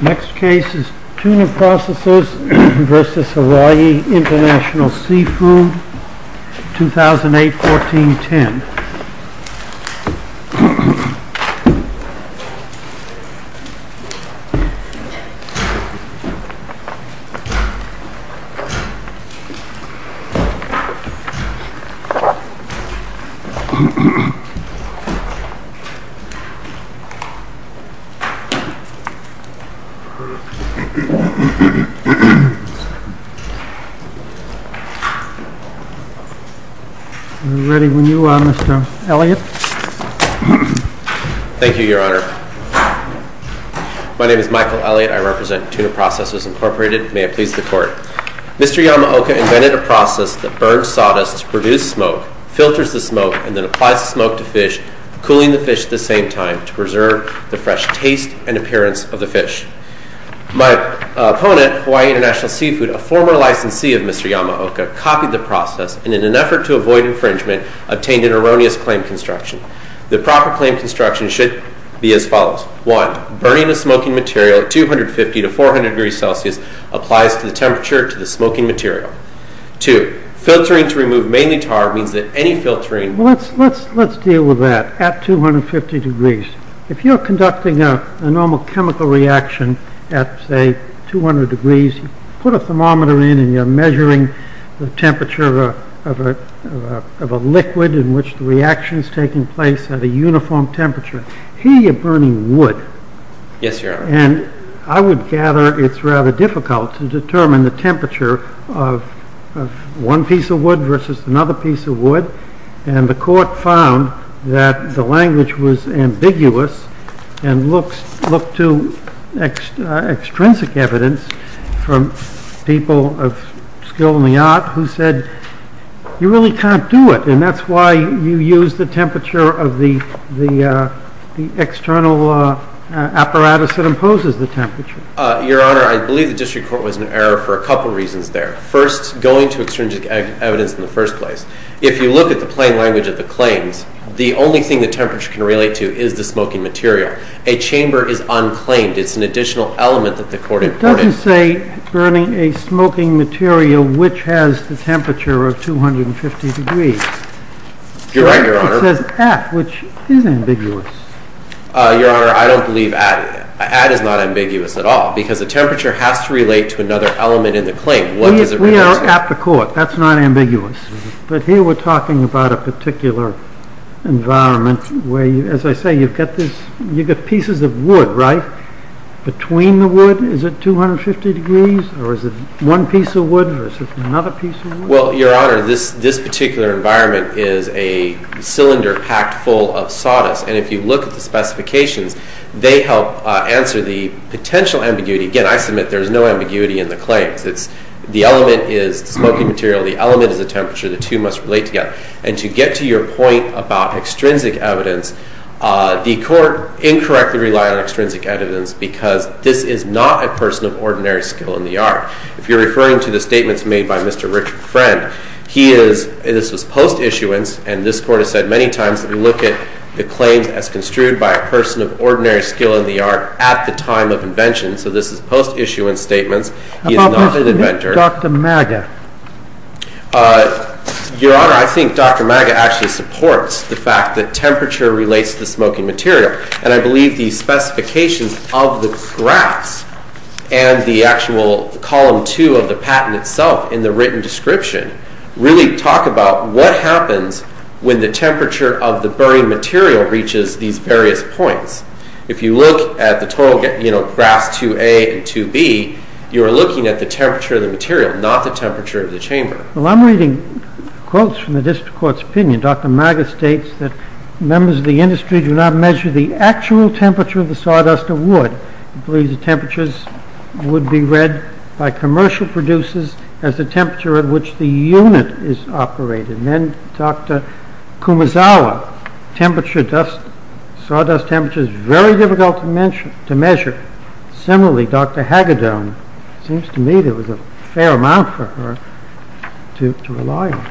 Next case is Tuna Processors v. Hawaii International Seafood 2008-14-10 Mr. Yamaoka invented a process that burns sawdust to produce smoke, filters the smoke, and then applies the smoke to fish, cooling the fish at the same time to preserve the fresh taste and appearance of the fish. My opponent, Hawaii International Seafood, a former licensee of Mr. Yamaoka, copied the process and in an effort to avoid infringement, obtained an erroneous claim construction. The proper claim construction should be as follows. 1. Burning the smoking material at 250-400 degrees Celsius applies to the temperature of the smoking material. 2. Filtering to remove mainly tar means that any filtering... Well, let's deal with that at 250 degrees. If you're conducting a normal chemical reaction at, say, 200 degrees, you put a thermometer in and you're measuring the temperature of a liquid in which the reaction is taking place at a uniform temperature, here you're burning wood. And I would gather it's rather difficult to determine the temperature of one piece of wood versus another piece of wood, and the court found that the language was ambiguous and looked to extrinsic evidence from people of skill in the art who said, you really can't do it. And that's why you use the temperature of the external apparatus that imposes the temperature. Your Honor, I believe the district court was in error for a couple of reasons there. First, going to extrinsic evidence in the first place. If you look at the plain language of the claims, the only thing the temperature can relate to is the smoking material. A chamber is unclaimed. It's an additional element that the court imported. I wouldn't say burning a smoking material which has the temperature of 250 degrees. You're right, Your Honor. It says at, which is ambiguous. Your Honor, I don't believe at is. At is not ambiguous at all, because the temperature has to relate to another element in the claim. What does it relate to? We are at the court. That's not ambiguous. But here we're talking about a particular environment where, as I say, you've got pieces of wood, right? Between the wood, is it 250 degrees, or is it one piece of wood versus another piece of wood? Well, Your Honor, this particular environment is a cylinder packed full of sawdust. And if you look at the specifications, they help answer the potential ambiguity. Again, I submit there's no ambiguity in the claims. The element is the smoking material. The element is the temperature. The two must relate together. And to get to your point about extrinsic evidence, the court incorrectly relied on extrinsic evidence, because this is not a person of ordinary skill in the art. If you're referring to the statements made by Mr. Richard Friend, he is, this was post-issuance, and this court has said many times that we look at the claims as construed by a person of ordinary skill in the art at the time of invention. So this is post-issuance statements. He is not an inventor. About Dr. Maga? Your Honor, I think Dr. Maga actually supports the fact that temperature relates to the smoking material. And I believe the specifications of the graphs and the actual column two of the patent itself in the written description really talk about what happens when the temperature of the burning material reaches these various points. If you look at the total graphs 2A and 2B, you're looking at the temperature of the material, not the temperature of the chamber. Well, I'm reading quotes from the district court's opinion. Dr. Maga states that members of the industry do not measure the actual temperature of the sawdust of wood. He believes the temperatures would be read by commercial producers as the temperature at which the unit is operated. Then Dr. Kumazawa, temperature, sawdust temperature is very difficult to measure. Similarly, Dr. Hagedorn, it seems to me there was a fair amount for her to rely on.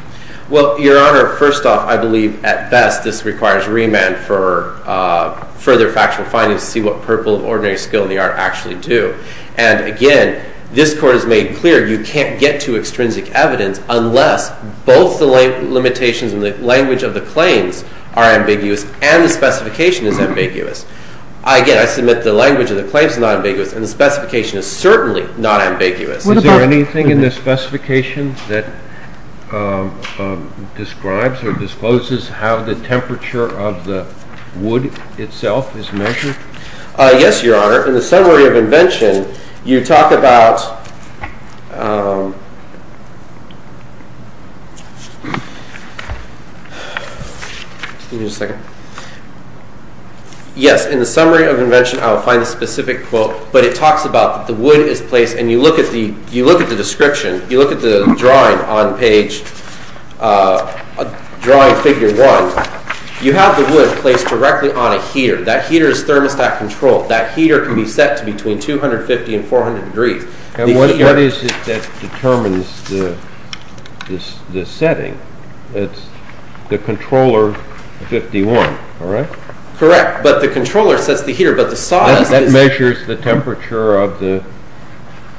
Well, Your Honor, first off, I believe at best this requires remand for further factual findings to see what purple of ordinary skill in the art actually do. And again, this court has made clear you can't get to extrinsic evidence unless both the limitations and the language of the claims are ambiguous and the specification is ambiguous. Again, I submit the language of the claims is not ambiguous and the specification is certainly not ambiguous. Is there anything in this specification that describes or discloses how the temperature of the wood itself is measured? Yes, Your Honor. In the summary of invention, you talk about, give me just a second, yes, in the summary of invention, I will find the specific quote, but it talks about the wood is placed and when you look at the description, you look at the drawing on page, drawing figure one, you have the wood placed directly on a heater. That heater is thermostat controlled. That heater can be set to between 250 and 400 degrees. And what is it that determines the setting? It's the controller 51, all right? Correct, but the controller sets the heater, but the sawdust is...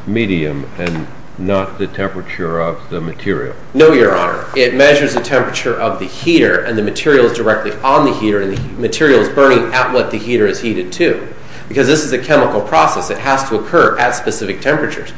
Medium and not the temperature of the material. No, Your Honor. It measures the temperature of the heater and the material is directly on the heater and the material is burning at what the heater is heated to. Because this is a chemical process, it has to occur at specific temperatures.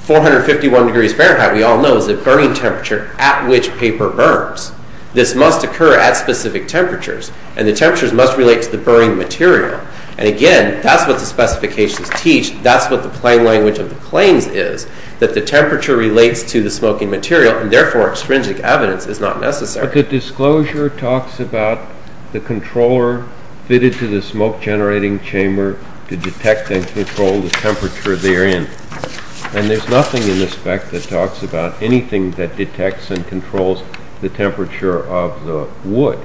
451 degrees Fahrenheit, we all know, is a burning temperature at which paper burns. This must occur at specific temperatures and the temperatures must relate to the burning material. And again, that's what the specifications teach. That's what the plain language of the claims is, that the temperature relates to the smoking material and therefore, extrinsic evidence is not necessary. But the disclosure talks about the controller fitted to the smoke generating chamber to detect and control the temperature therein and there's nothing in the spec that talks about anything that detects and controls the temperature of the wood.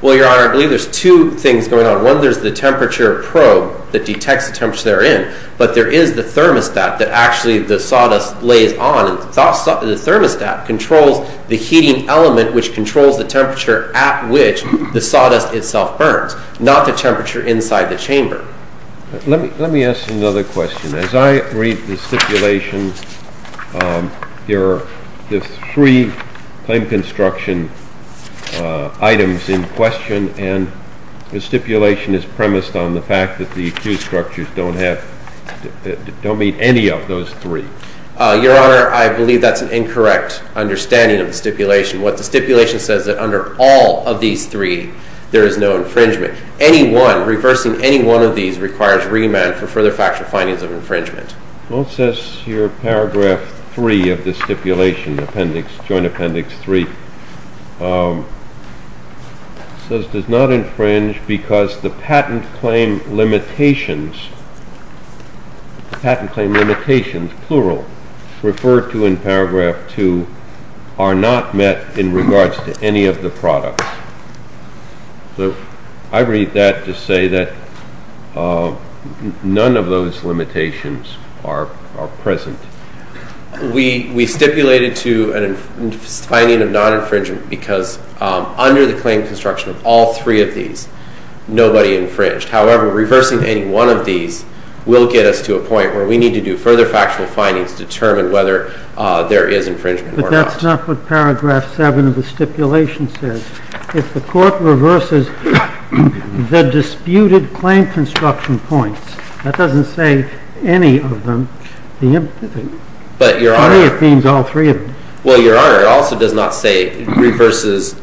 Well, Your Honor, I believe there's two things going on. One, there's the temperature probe that detects the temperature therein, but there is the thermostat that actually the sawdust lays on and the thermostat controls the heating element which controls the temperature at which the sawdust itself burns, not the temperature inside the chamber. Let me ask another question. As I read the stipulation, there are three claim construction items in question and the stipulation is premised on the fact that the accused structures don't meet any of those three. Your Honor, I believe that's an incorrect understanding of the stipulation. What the stipulation says is that under all of these three, there is no infringement. Any one, reversing any one of these requires remand for further factual findings of infringement. Well, it says here paragraph three of the stipulation, appendix, joint appendix three, says does not infringe because the patent claim limitations, patent claim limitations, plural, referred to in paragraph two are not met in regards to any of the products. So I read that to say that none of those limitations are present. We stipulated to a finding of non-infringement because under the claim construction of all three of these, nobody infringed. However, reversing any one of these will get us to a point where we need to do further factual findings to determine whether there is infringement or not. That's not what paragraph seven of the stipulation says. If the court reverses the disputed claim construction points, that doesn't say any of them. It means all three of them. Well, Your Honor, it also does not say reverses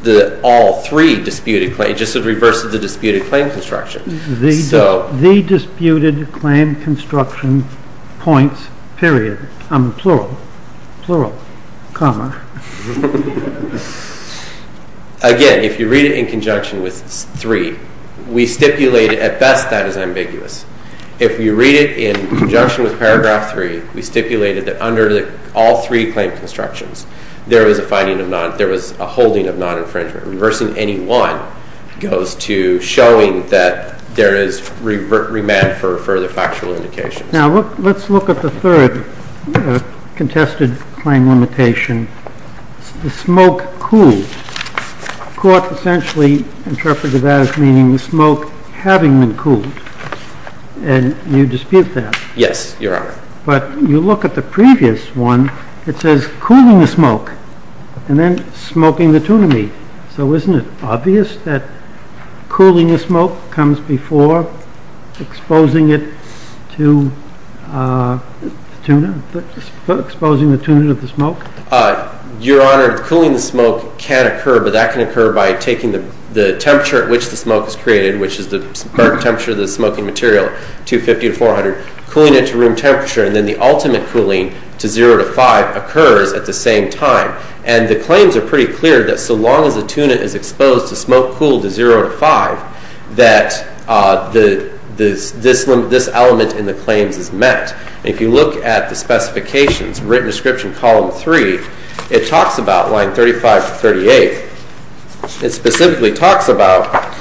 all three disputed claims. It just says reverses the disputed claim construction. The disputed claim construction points, period. I'm in plural. Plural. Comma. Again, if you read it in conjunction with three, we stipulate at best that is ambiguous. If you read it in conjunction with paragraph three, we stipulated that under all three claim constructions, there was a holding of non-infringement. Reversing any one goes to showing that there is remand for further factual indications. Now, let's look at the third contested claim limitation, the smoke cooled. Court essentially interpreted that as meaning the smoke having been cooled. And you dispute that. Yes, Your Honor. But you look at the previous one. It says cooling the smoke, and then smoking the tuna meat. So isn't it obvious that cooling the smoke comes before exposing it to tuna, exposing the tuna to the smoke? Your Honor, cooling the smoke can occur. But that can occur by taking the temperature at which the smoke is created, which is the current temperature of the smoking material, 250 to 400. Cooling it to room temperature, and then the ultimate cooling to zero to five occurs at the same time. And the claims are pretty clear that so long as the tuna is exposed to smoke cooled to zero to five, that this element in the claims is met. If you look at the specifications, written description column three, it talks about line 35 to 38. It specifically talks about,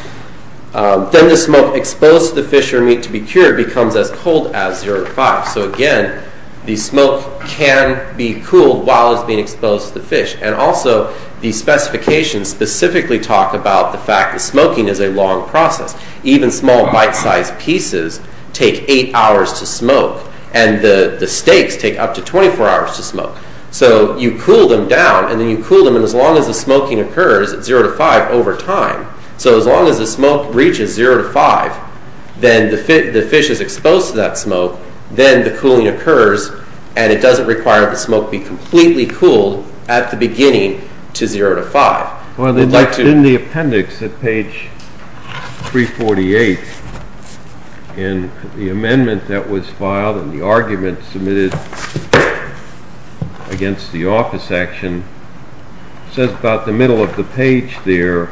then the smoke exposed to the fish or meat to be cured becomes as cold as zero to five. So again, the smoke can be cooled while it's being exposed to the fish. And also, the specifications specifically talk about the fact that smoking is a long process. Even small bite-sized pieces take eight hours to smoke. And the steaks take up to 24 hours to smoke. So you cool them down, and then you cool them, and as long as the smoking occurs at zero to five over time. So as long as the smoke reaches zero to five, then the fish is exposed to that smoke, then the cooling occurs, and it doesn't require the smoke be completely cooled at the beginning to zero to five. Well, in the appendix at page 348, in the amendment that was filed, and the argument submitted against the office action, says about the middle of the page there,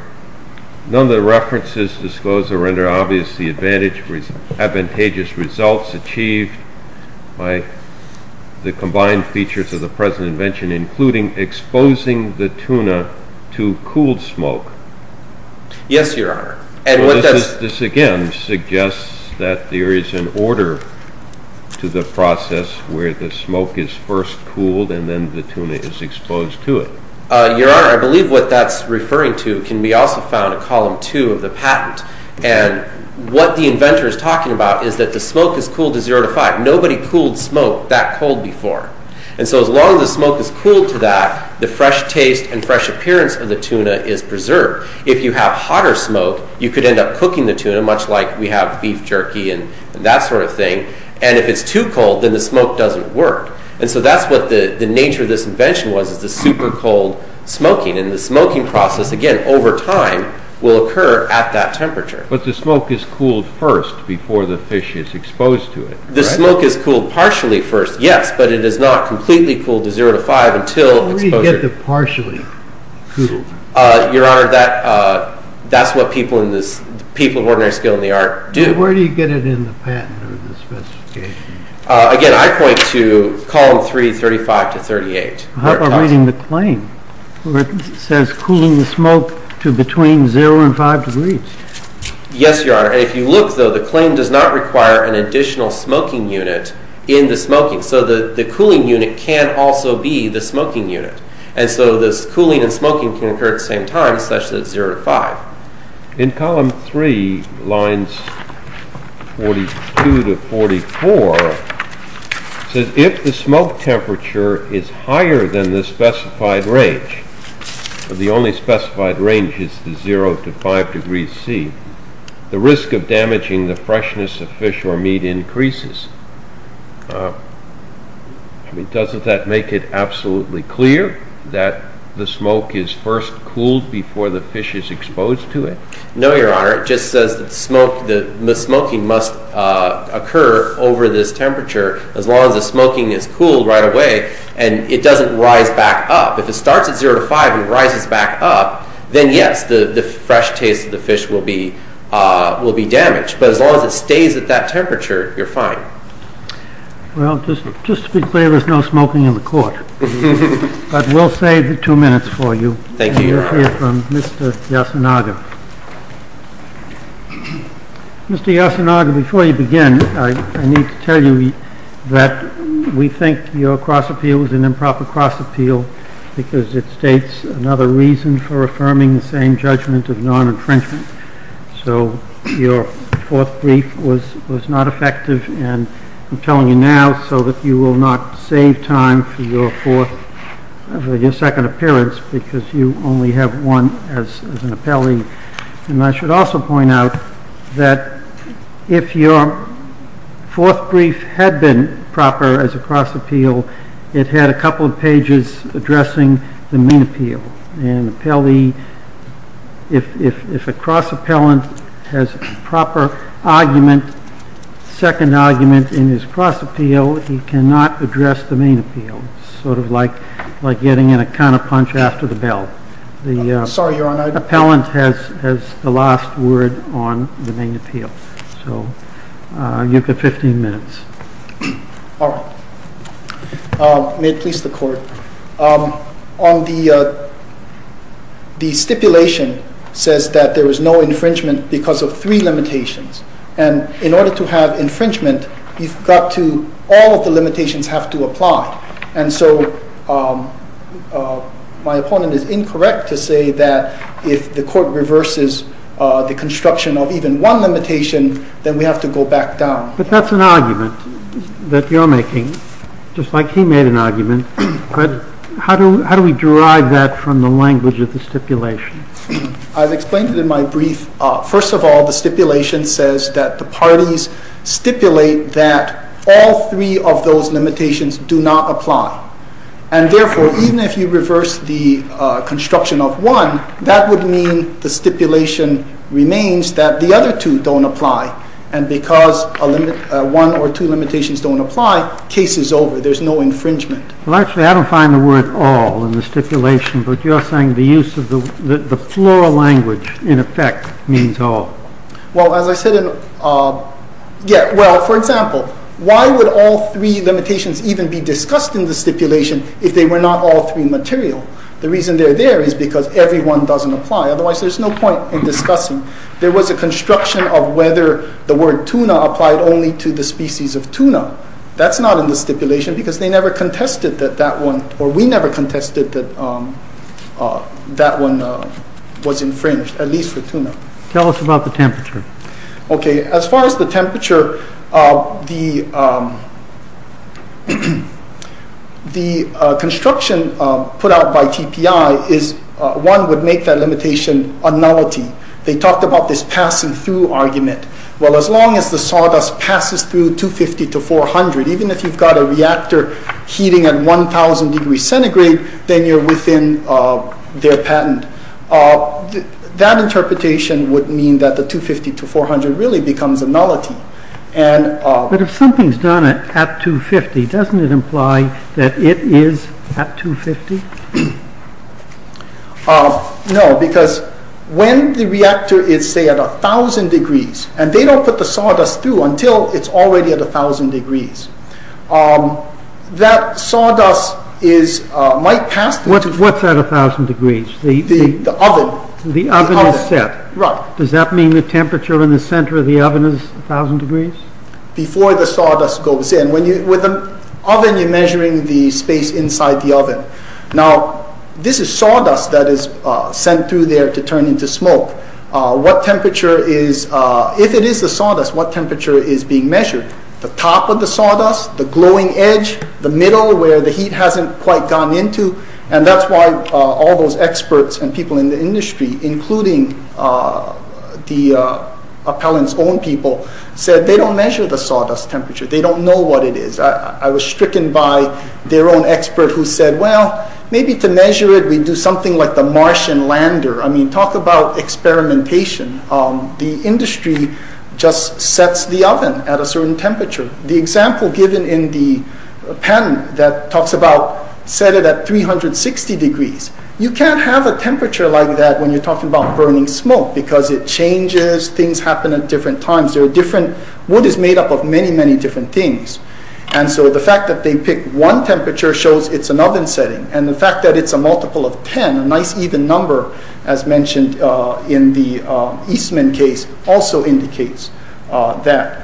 none of the references disclose or render obvious the advantageous results achieved by the combined features of the present invention, including exposing the tuna to cooled smoke. Yes, your honor. And what does- This again suggests that there is an order to the process where the smoke is first cooled and then the tuna is exposed to it. Your honor, I believe what that's referring to can be also found in column two of the patent. And what the inventor is talking about is that the smoke is cooled to zero to five. Nobody cooled smoke that cold before. And so as long as the smoke is cooled to that, the fresh taste and fresh appearance of the tuna is preserved. If you have hotter smoke, you could end up cooking the tuna, much like we have beef jerky and that sort of thing. And if it's too cold, then the smoke doesn't work. And so that's what the nature of this invention was, is the super cold smoking. And the smoking process, again, over time, will occur at that temperature. But the smoke is cooled first before the fish is exposed to it. The smoke is cooled partially first, yes, but it is not completely cooled to zero to five until exposure- Where do you get the partially cooled? Your honor, that's what people of ordinary skill in the art do. Where do you get it in the patent or the specification? Again, I point to column three, 35 to 38. How about reading the claim where it says cooling the smoke to between zero and five degrees? Yes, your honor. And if you look, though, the claim does not require an additional smoking unit in the smoking. So the cooling unit can also be the smoking unit. And so this cooling and smoking can occur at the same time, especially at zero to five. In column three, lines 42 to 44, it says if the smoke temperature is higher than the specified range, but the only specified range is the zero to five degrees C, the risk of damaging the freshness of fish or meat increases. I mean, doesn't that make it absolutely clear that the smoke is first cooled before the fish is exposed to it? No, your honor. It just says that the smoking must occur over this temperature as long as the smoking is cooled right away and it doesn't rise back up. If it starts at zero to five and rises back up, then yes, the fresh taste of the fish will be damaged. But as long as it stays at that temperature, you're fine. Well, just to be clear, there's no smoking in the court. But we'll save the two minutes for you. Thank you, your honor. And we'll hear from Mr. Yasunaga. Mr. Yasunaga, before you begin, I need to tell you that we think your cross appeal was an improper cross appeal because it states another reason for the judgment of non-infringement, so your fourth brief was not effective. And I'm telling you now so that you will not save time for your second appearance because you only have one as an appellee. And I should also point out that if your fourth brief had been proper as a cross appeal, it had a couple of pages addressing the main appeal. And if a cross appellant has a proper argument, second argument in his cross appeal, he cannot address the main appeal. Sort of like getting in a counter punch after the bell. The- Sorry, your honor. Appellant has the last word on the main appeal. So you've got 15 minutes. All right. May it please the court. On the stipulation says that there was no infringement because of three limitations. And in order to have infringement, you've got to, all of the limitations have to apply. And so my opponent is incorrect to say that if the court reverses the construction of even one limitation, then we have to go back down. But that's an argument that you're making. Just like he made an argument. But how do we derive that from the language of the stipulation? I've explained it in my brief. First of all, the stipulation says that the parties stipulate that all three of those limitations do not apply. And therefore, even if you reverse the construction of one, that would mean the stipulation remains that the other two don't apply. And because one or two limitations don't apply, case is over. There's no infringement. Well, actually, I don't find the word all in the stipulation. But you're saying the use of the plural language, in effect, means all. Well, as I said in- Yeah, well, for example, why would all three limitations even be discussed in the stipulation if they were not all three material? The reason they're there is because every one doesn't apply. Otherwise, there's no point in discussing. There was a construction of whether the word tuna applied only to the species of tuna. That's not in the stipulation, because they never contested that that one, or we never contested that that one was infringed, at least for tuna. Tell us about the temperature. OK, as far as the temperature, the construction put out by TPI is one would make that limitation a nullity. They talked about this passing through argument. Well, as long as the sawdust passes through 250 to 400, even if you've got a reactor heating at 1,000 degrees centigrade, then you're within their patent. That interpretation would mean that the 250 to 400 really becomes a nullity. But if something's done at 250, doesn't it imply that it is at 250? No, because when the reactor is, say, at 1,000 degrees, and they don't put the sawdust through until it's already at 1,000 degrees, that sawdust might pass through. What's at 1,000 degrees? The oven. The oven is set. Does that mean the temperature in the center of the oven is 1,000 degrees? Before the sawdust goes in. With an oven, you're measuring the space inside the oven. Now, this is sawdust that is sent through there to turn into smoke. If it is the sawdust, what temperature is being measured? The top of the sawdust, the glowing edge, the middle where the heat hasn't quite gone into, and that's why all those experts and people in the industry, including the appellant's own people, said they don't measure the sawdust temperature. They don't know what it is. I was stricken by their own expert who said, well, maybe to measure it, we do something like the Martian Lander. I mean, talk about experimentation. The industry just sets the oven at a certain temperature. The example given in the patent that talks about set it at 360 degrees. You can't have a temperature like that when you're talking about burning smoke because it changes, things happen at different times. Wood is made up of many, many different things. And so the fact that they pick one temperature shows it's an oven setting. And the fact that it's a multiple of 10, a nice even number, as mentioned in the Eastman case, also indicates that.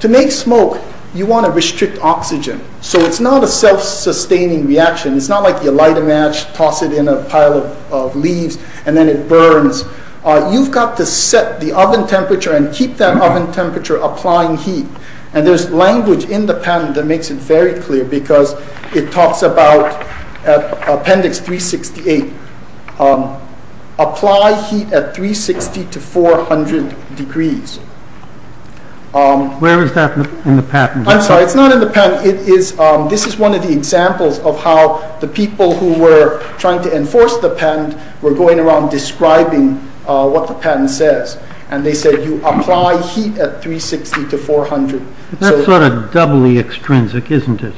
To make smoke, you want to restrict oxygen. So it's not a self-sustaining reaction. It's not like you light a match, toss it in a pile of leaves, and then it burns. You've got to set the oven temperature and keep that oven temperature applying heat. And there's language in the patent that makes it very clear because it talks about, Appendix 368, apply heat at 360 to 400 degrees. Where is that in the patent? I'm sorry, it's not in the patent. It is, this is one of the examples of how the people who were trying to enforce the patent were going around describing what the patent says. And they said, you apply heat at 360 to 400. That's sort of doubly extrinsic, isn't it?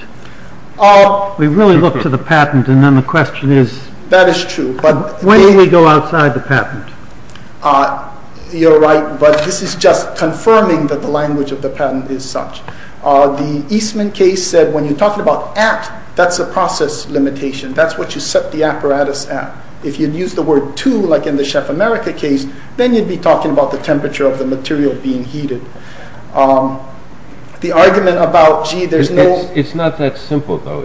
We really look to the patent and then the question is, when do we go outside the patent? You're right, but this is just confirming that the language of the patent is such. The Eastman case said, when you're talking about at, that's a process limitation. That's what you set the apparatus at. If you'd use the word to, like in the Chef America case, then you'd be talking about the temperature of the material being heated. The argument about, gee, there's no- It's not that simple, though.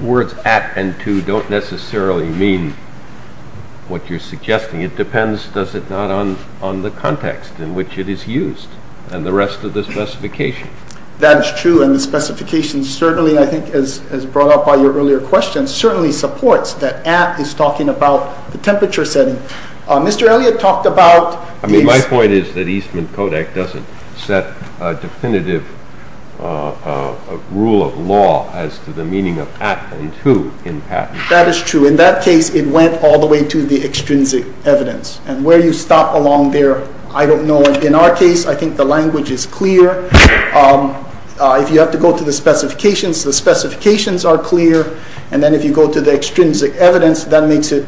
Words at and to don't necessarily mean what you're suggesting. It depends, does it not, on the context in which it is used and the rest of the specification. That is true, and the specification certainly, I think, as brought up by your earlier question, certainly supports that at is talking about the temperature setting. Mr. Elliott talked about- I mean, my point is that Eastman Codec doesn't set a definitive rule of law as to the meaning of at and to in patent. That is true. In that case, it went all the way to the extrinsic evidence. And where you stop along there, I don't know. In our case, I think the language is clear. If you have to go to the specifications, the specifications are clear. And then if you go to the extrinsic evidence, that makes it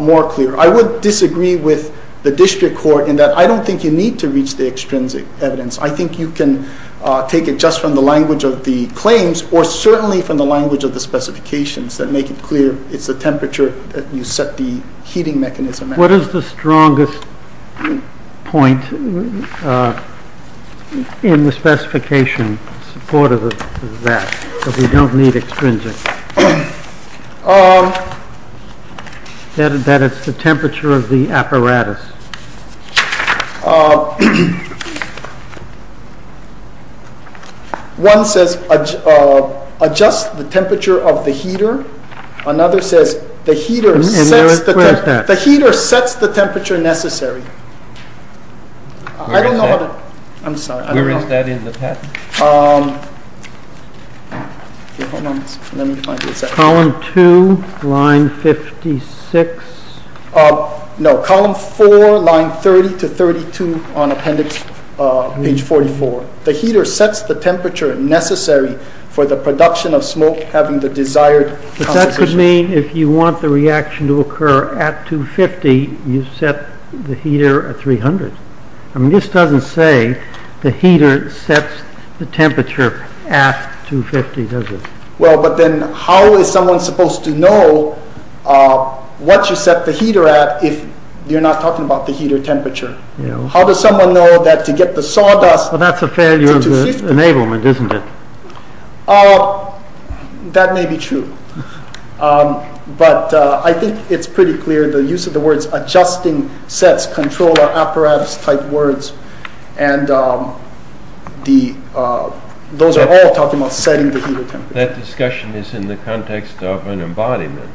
more clear. I would disagree with the district court in that I don't think you need to reach the extrinsic evidence. I think you can take it just from the language of the claims or certainly from the language of the specifications that make it clear it's the temperature that you set the heating mechanism at. What is the strongest point in the specification in support of that, that we don't need extrinsic, that it's the temperature of the apparatus? One says adjust the temperature of the heater. Another says the heater sets the temperature necessary. I don't know how to... I'm sorry. Where is that in the patent? Column two, line 56. No, column four, line 30 to 32 on appendix page 44. The heater sets the temperature necessary for the production of smoke having the desired composition. But that could mean if you want the reaction to occur at 250, you set the heater at 300. I mean, this doesn't say the heater sets the temperature at 250, does it? Well, but then how is someone supposed to know what you set the heater at if you're not talking about the heater temperature? How does someone know that to get the sawdust... Well, that's a failure of the enablement, isn't it? That may be true, but I think it's pretty clear. The use of the words adjusting sets control our apparatus type words, and those are all talking about setting the heater temperature. That discussion is in the context of an embodiment.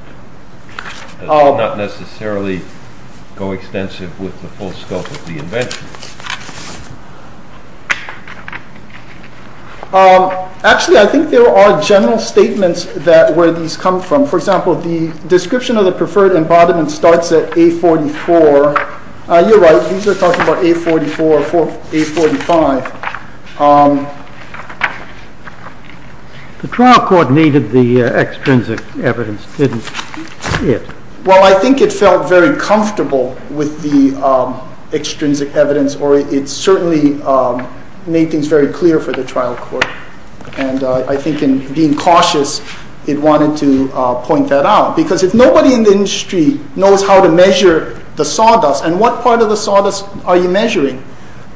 It does not necessarily go extensive with the full scope of the invention. Actually, I think there are general statements where these come from. For example, the description of the preferred embodiment starts at A44. You're right, these are talking about A44, A45. The trial court needed the extrinsic evidence, didn't it? Well, I think it felt very comfortable with the extrinsic evidence or it certainly made things very clear for the trial court. And I think in being cautious, it wanted to point that out. Because if nobody in the industry knows how to measure the sawdust and what part of the sawdust are you measuring,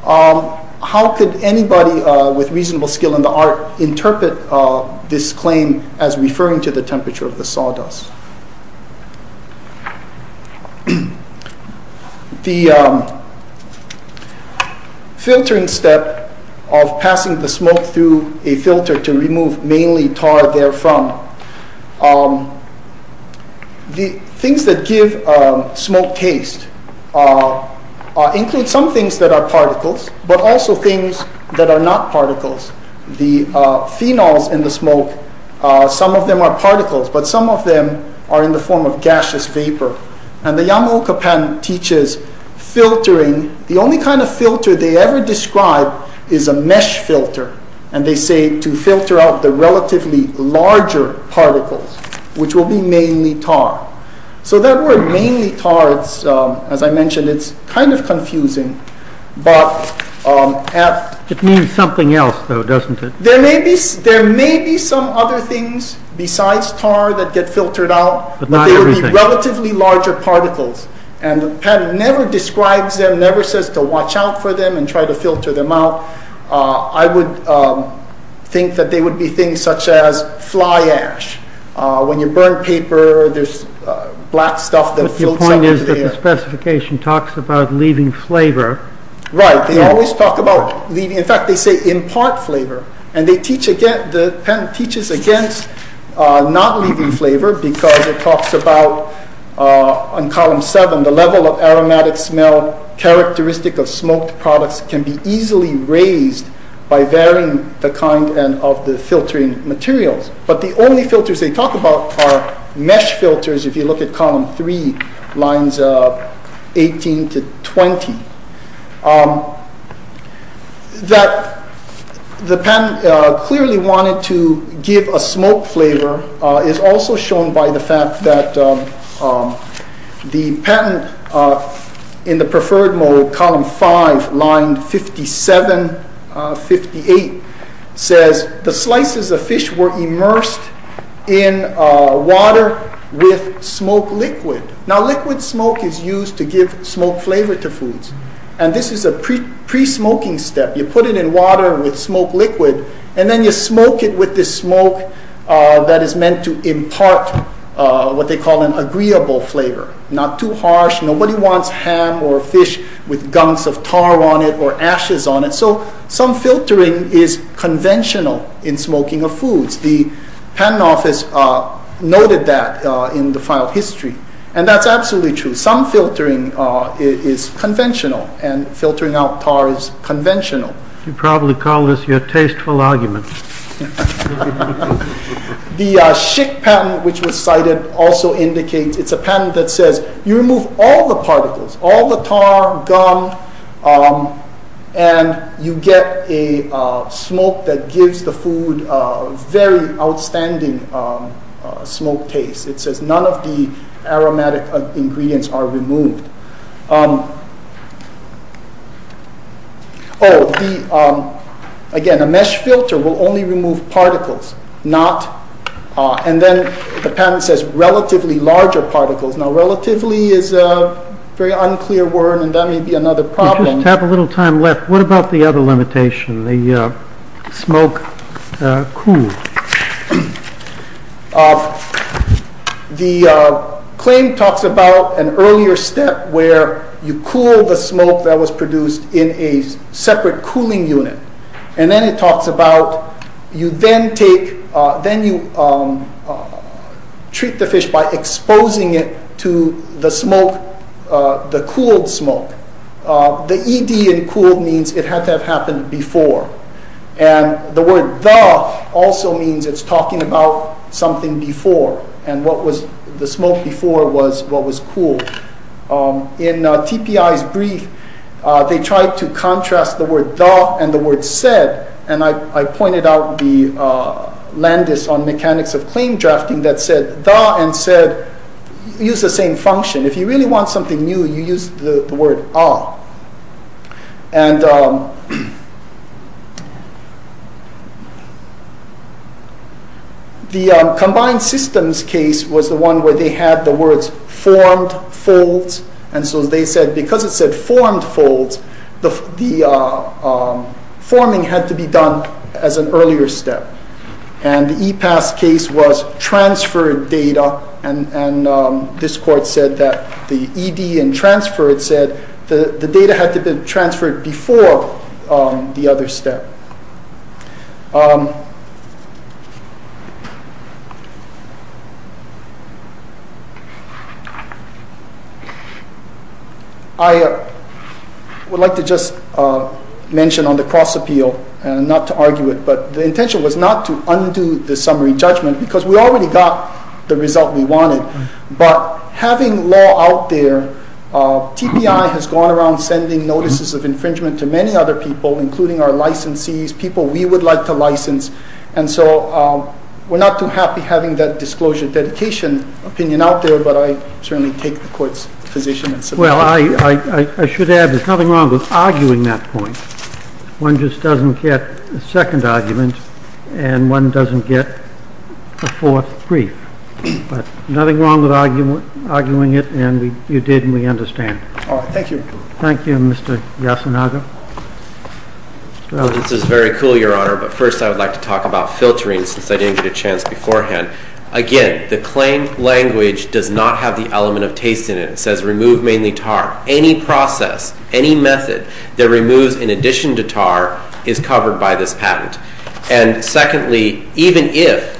how could anybody with reasonable skill in the art interpret this claim as referring to the temperature of the sawdust? The filtering step of passing the smoke through a filter to remove mainly tar therefrom. The things that give smoke taste include some things that are particles, but also things that are not particles. The phenols in the smoke, some of them are particles, but some of them are in the form of gaseous vapor. And the Yamaoka patent teaches filtering. The only kind of filter they ever describe is a mesh filter. And they say to filter out the relatively larger particles, which will be mainly tar. So that word mainly tar, as I mentioned, it's kind of confusing. It means something else though, doesn't it? There may be some other things besides tar that get filtered out, but they would be relatively larger particles. And the patent never describes them, never says to watch out for them and try to filter them out. I would think that they would be things such as fly ash. When you burn paper, there's black stuff that fills up over there. But your point is that the specification talks about leaving flavor. Right, they always talk about leaving, in fact, they say impart flavor. The patent teaches against not leaving flavor because it talks about, on column seven, the level of aromatic smell characteristic of smoked products can be easily raised by varying the kind of the filtering materials. But the only filters they talk about are mesh filters, if you look at column three, lines 18 to 20. The patent clearly wanted to give a smoke flavor is also shown by the fact that the patent in the preferred mode, column five, line 57, 58, says the slices of fish were immersed in water with smoke liquid. Now liquid smoke is used to give smoke flavor to foods. This is a pre-smoking step. You put it in water with smoke liquid, and then you smoke it with this smoke that is meant to impart what they call an agreeable flavor, not too harsh. Nobody wants ham or fish with gunks of tar on it or ashes on it. So some filtering is conventional in smoking of foods. The patent office noted that in the file history, and that's absolutely true. Some filtering is conventional, and filtering out tar is conventional. You probably call this your tasteful argument. The Schick patent, which was cited, also indicates it's a patent that says you remove all the particles, all the tar, gunk, and you get a smoke that gives the food a very outstanding smoke taste. None of the aromatic ingredients are removed. Oh, again, a mesh filter will only remove particles. And then the patent says relatively larger particles. Now relatively is a very unclear word, and that may be another problem. We have a little time left. What about the other limitation, the smoke cool? The claim talks about an earlier step where you cool the smoke that was produced in a separate cooling unit. And then it talks about you then take, then you treat the fish by exposing it to the smoke, the cooled smoke. The ED in cooled means it had to have happened before. And the word the also means it's talking about something before. And what was the smoke before was what was cooled. In TPI's brief, they tried to contrast the word the and the word said. And I pointed out the Landis on mechanics of claim drafting that said the and said, use the same function. If you really want something new, you use the word a. And the combined systems case was the one where they had the words formed, folds. And so they said, because it said formed folds, the forming had to be done as an earlier step. And the EPAS case was transferred data. And this court said that the ED and transferred said the data had to be transferred before the other step. I would like to just mention on the cross appeal and not to argue it, but the intention was not to undo the summary judgment because we already got the result we wanted, but having law out there, TPI has gone around sending notices of infringement to many other people, including our licensees, people we would like to license. And so we're not too happy having that disclosure dedication opinion out there, but I certainly take the court's position. And so, well, I, I, I should add, there's nothing wrong with arguing that point. One just doesn't get a second argument and one doesn't get a fourth brief. But nothing wrong with arguing it. And you did, and we understand. All right. Thank you. Thank you, Mr. Yasunaga. This is very cool, Your Honor. But first I would like to talk about filtering since I didn't get a chance beforehand. Again, the claim language does not have the element of taste in it. It says remove mainly tar. Any process, any method that removes in addition to tar is covered by this patent. And secondly, even if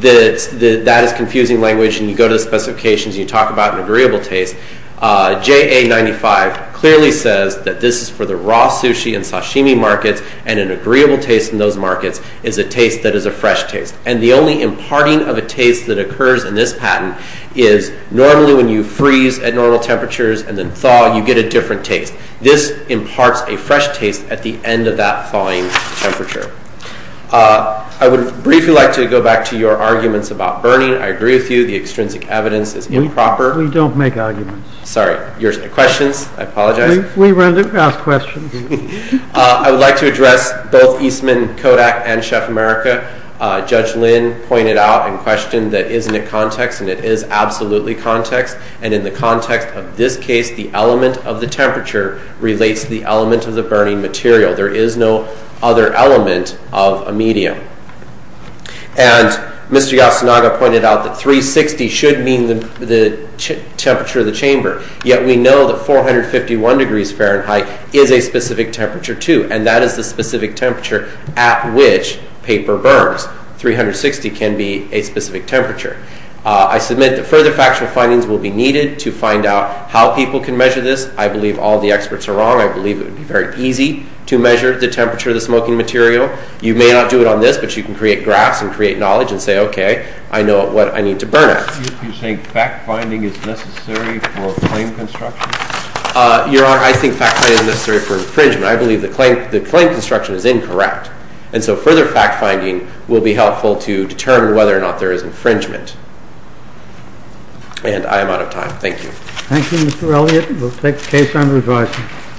that is confusing language and you go to the specifications and you talk about an agreeable taste, JA 95 clearly says that this is for the raw sushi and sashimi markets, and an agreeable taste in those markets is a taste that is a fresh taste. And the only imparting of a taste that occurs in this patent is normally when you freeze at normal temperatures and then thaw, you get a different taste. This imparts a fresh taste at the end of that thawing temperature. I would briefly like to go back to your arguments about burning. I agree with you. The extrinsic evidence is improper. We don't make arguments. Sorry. Your questions. I apologize. We run to ask questions. I would like to address both Eastman Kodak and Chef America. Judge Lynn pointed out and questioned that isn't it context? And it is absolutely context. And in the context of this case, the element of the temperature relates to the element of the burning material. There is no other element of a medium. And Mr. Yasunaga pointed out that 360 should mean the temperature of the chamber. Yet we know that 451 degrees Fahrenheit is a specific temperature too. And that is the specific temperature at which paper burns. 360 can be a specific temperature. I submit that further factual findings will be needed to find out how people can measure this. I believe all the experts are wrong. I believe it would be very easy to measure the temperature of the smoking material. You may not do it on this, but you can create graphs and create knowledge and say, OK, I know what I need to burn at. Do you think fact-finding is necessary for claim construction? Your Honor, I think fact-finding is necessary for infringement. I believe the claim construction is incorrect. And so further fact-finding will be helpful to determine whether or not there is infringement. And I am out of time. Thank you. Thank you, Mr. Elliott. We'll take the case under advisory.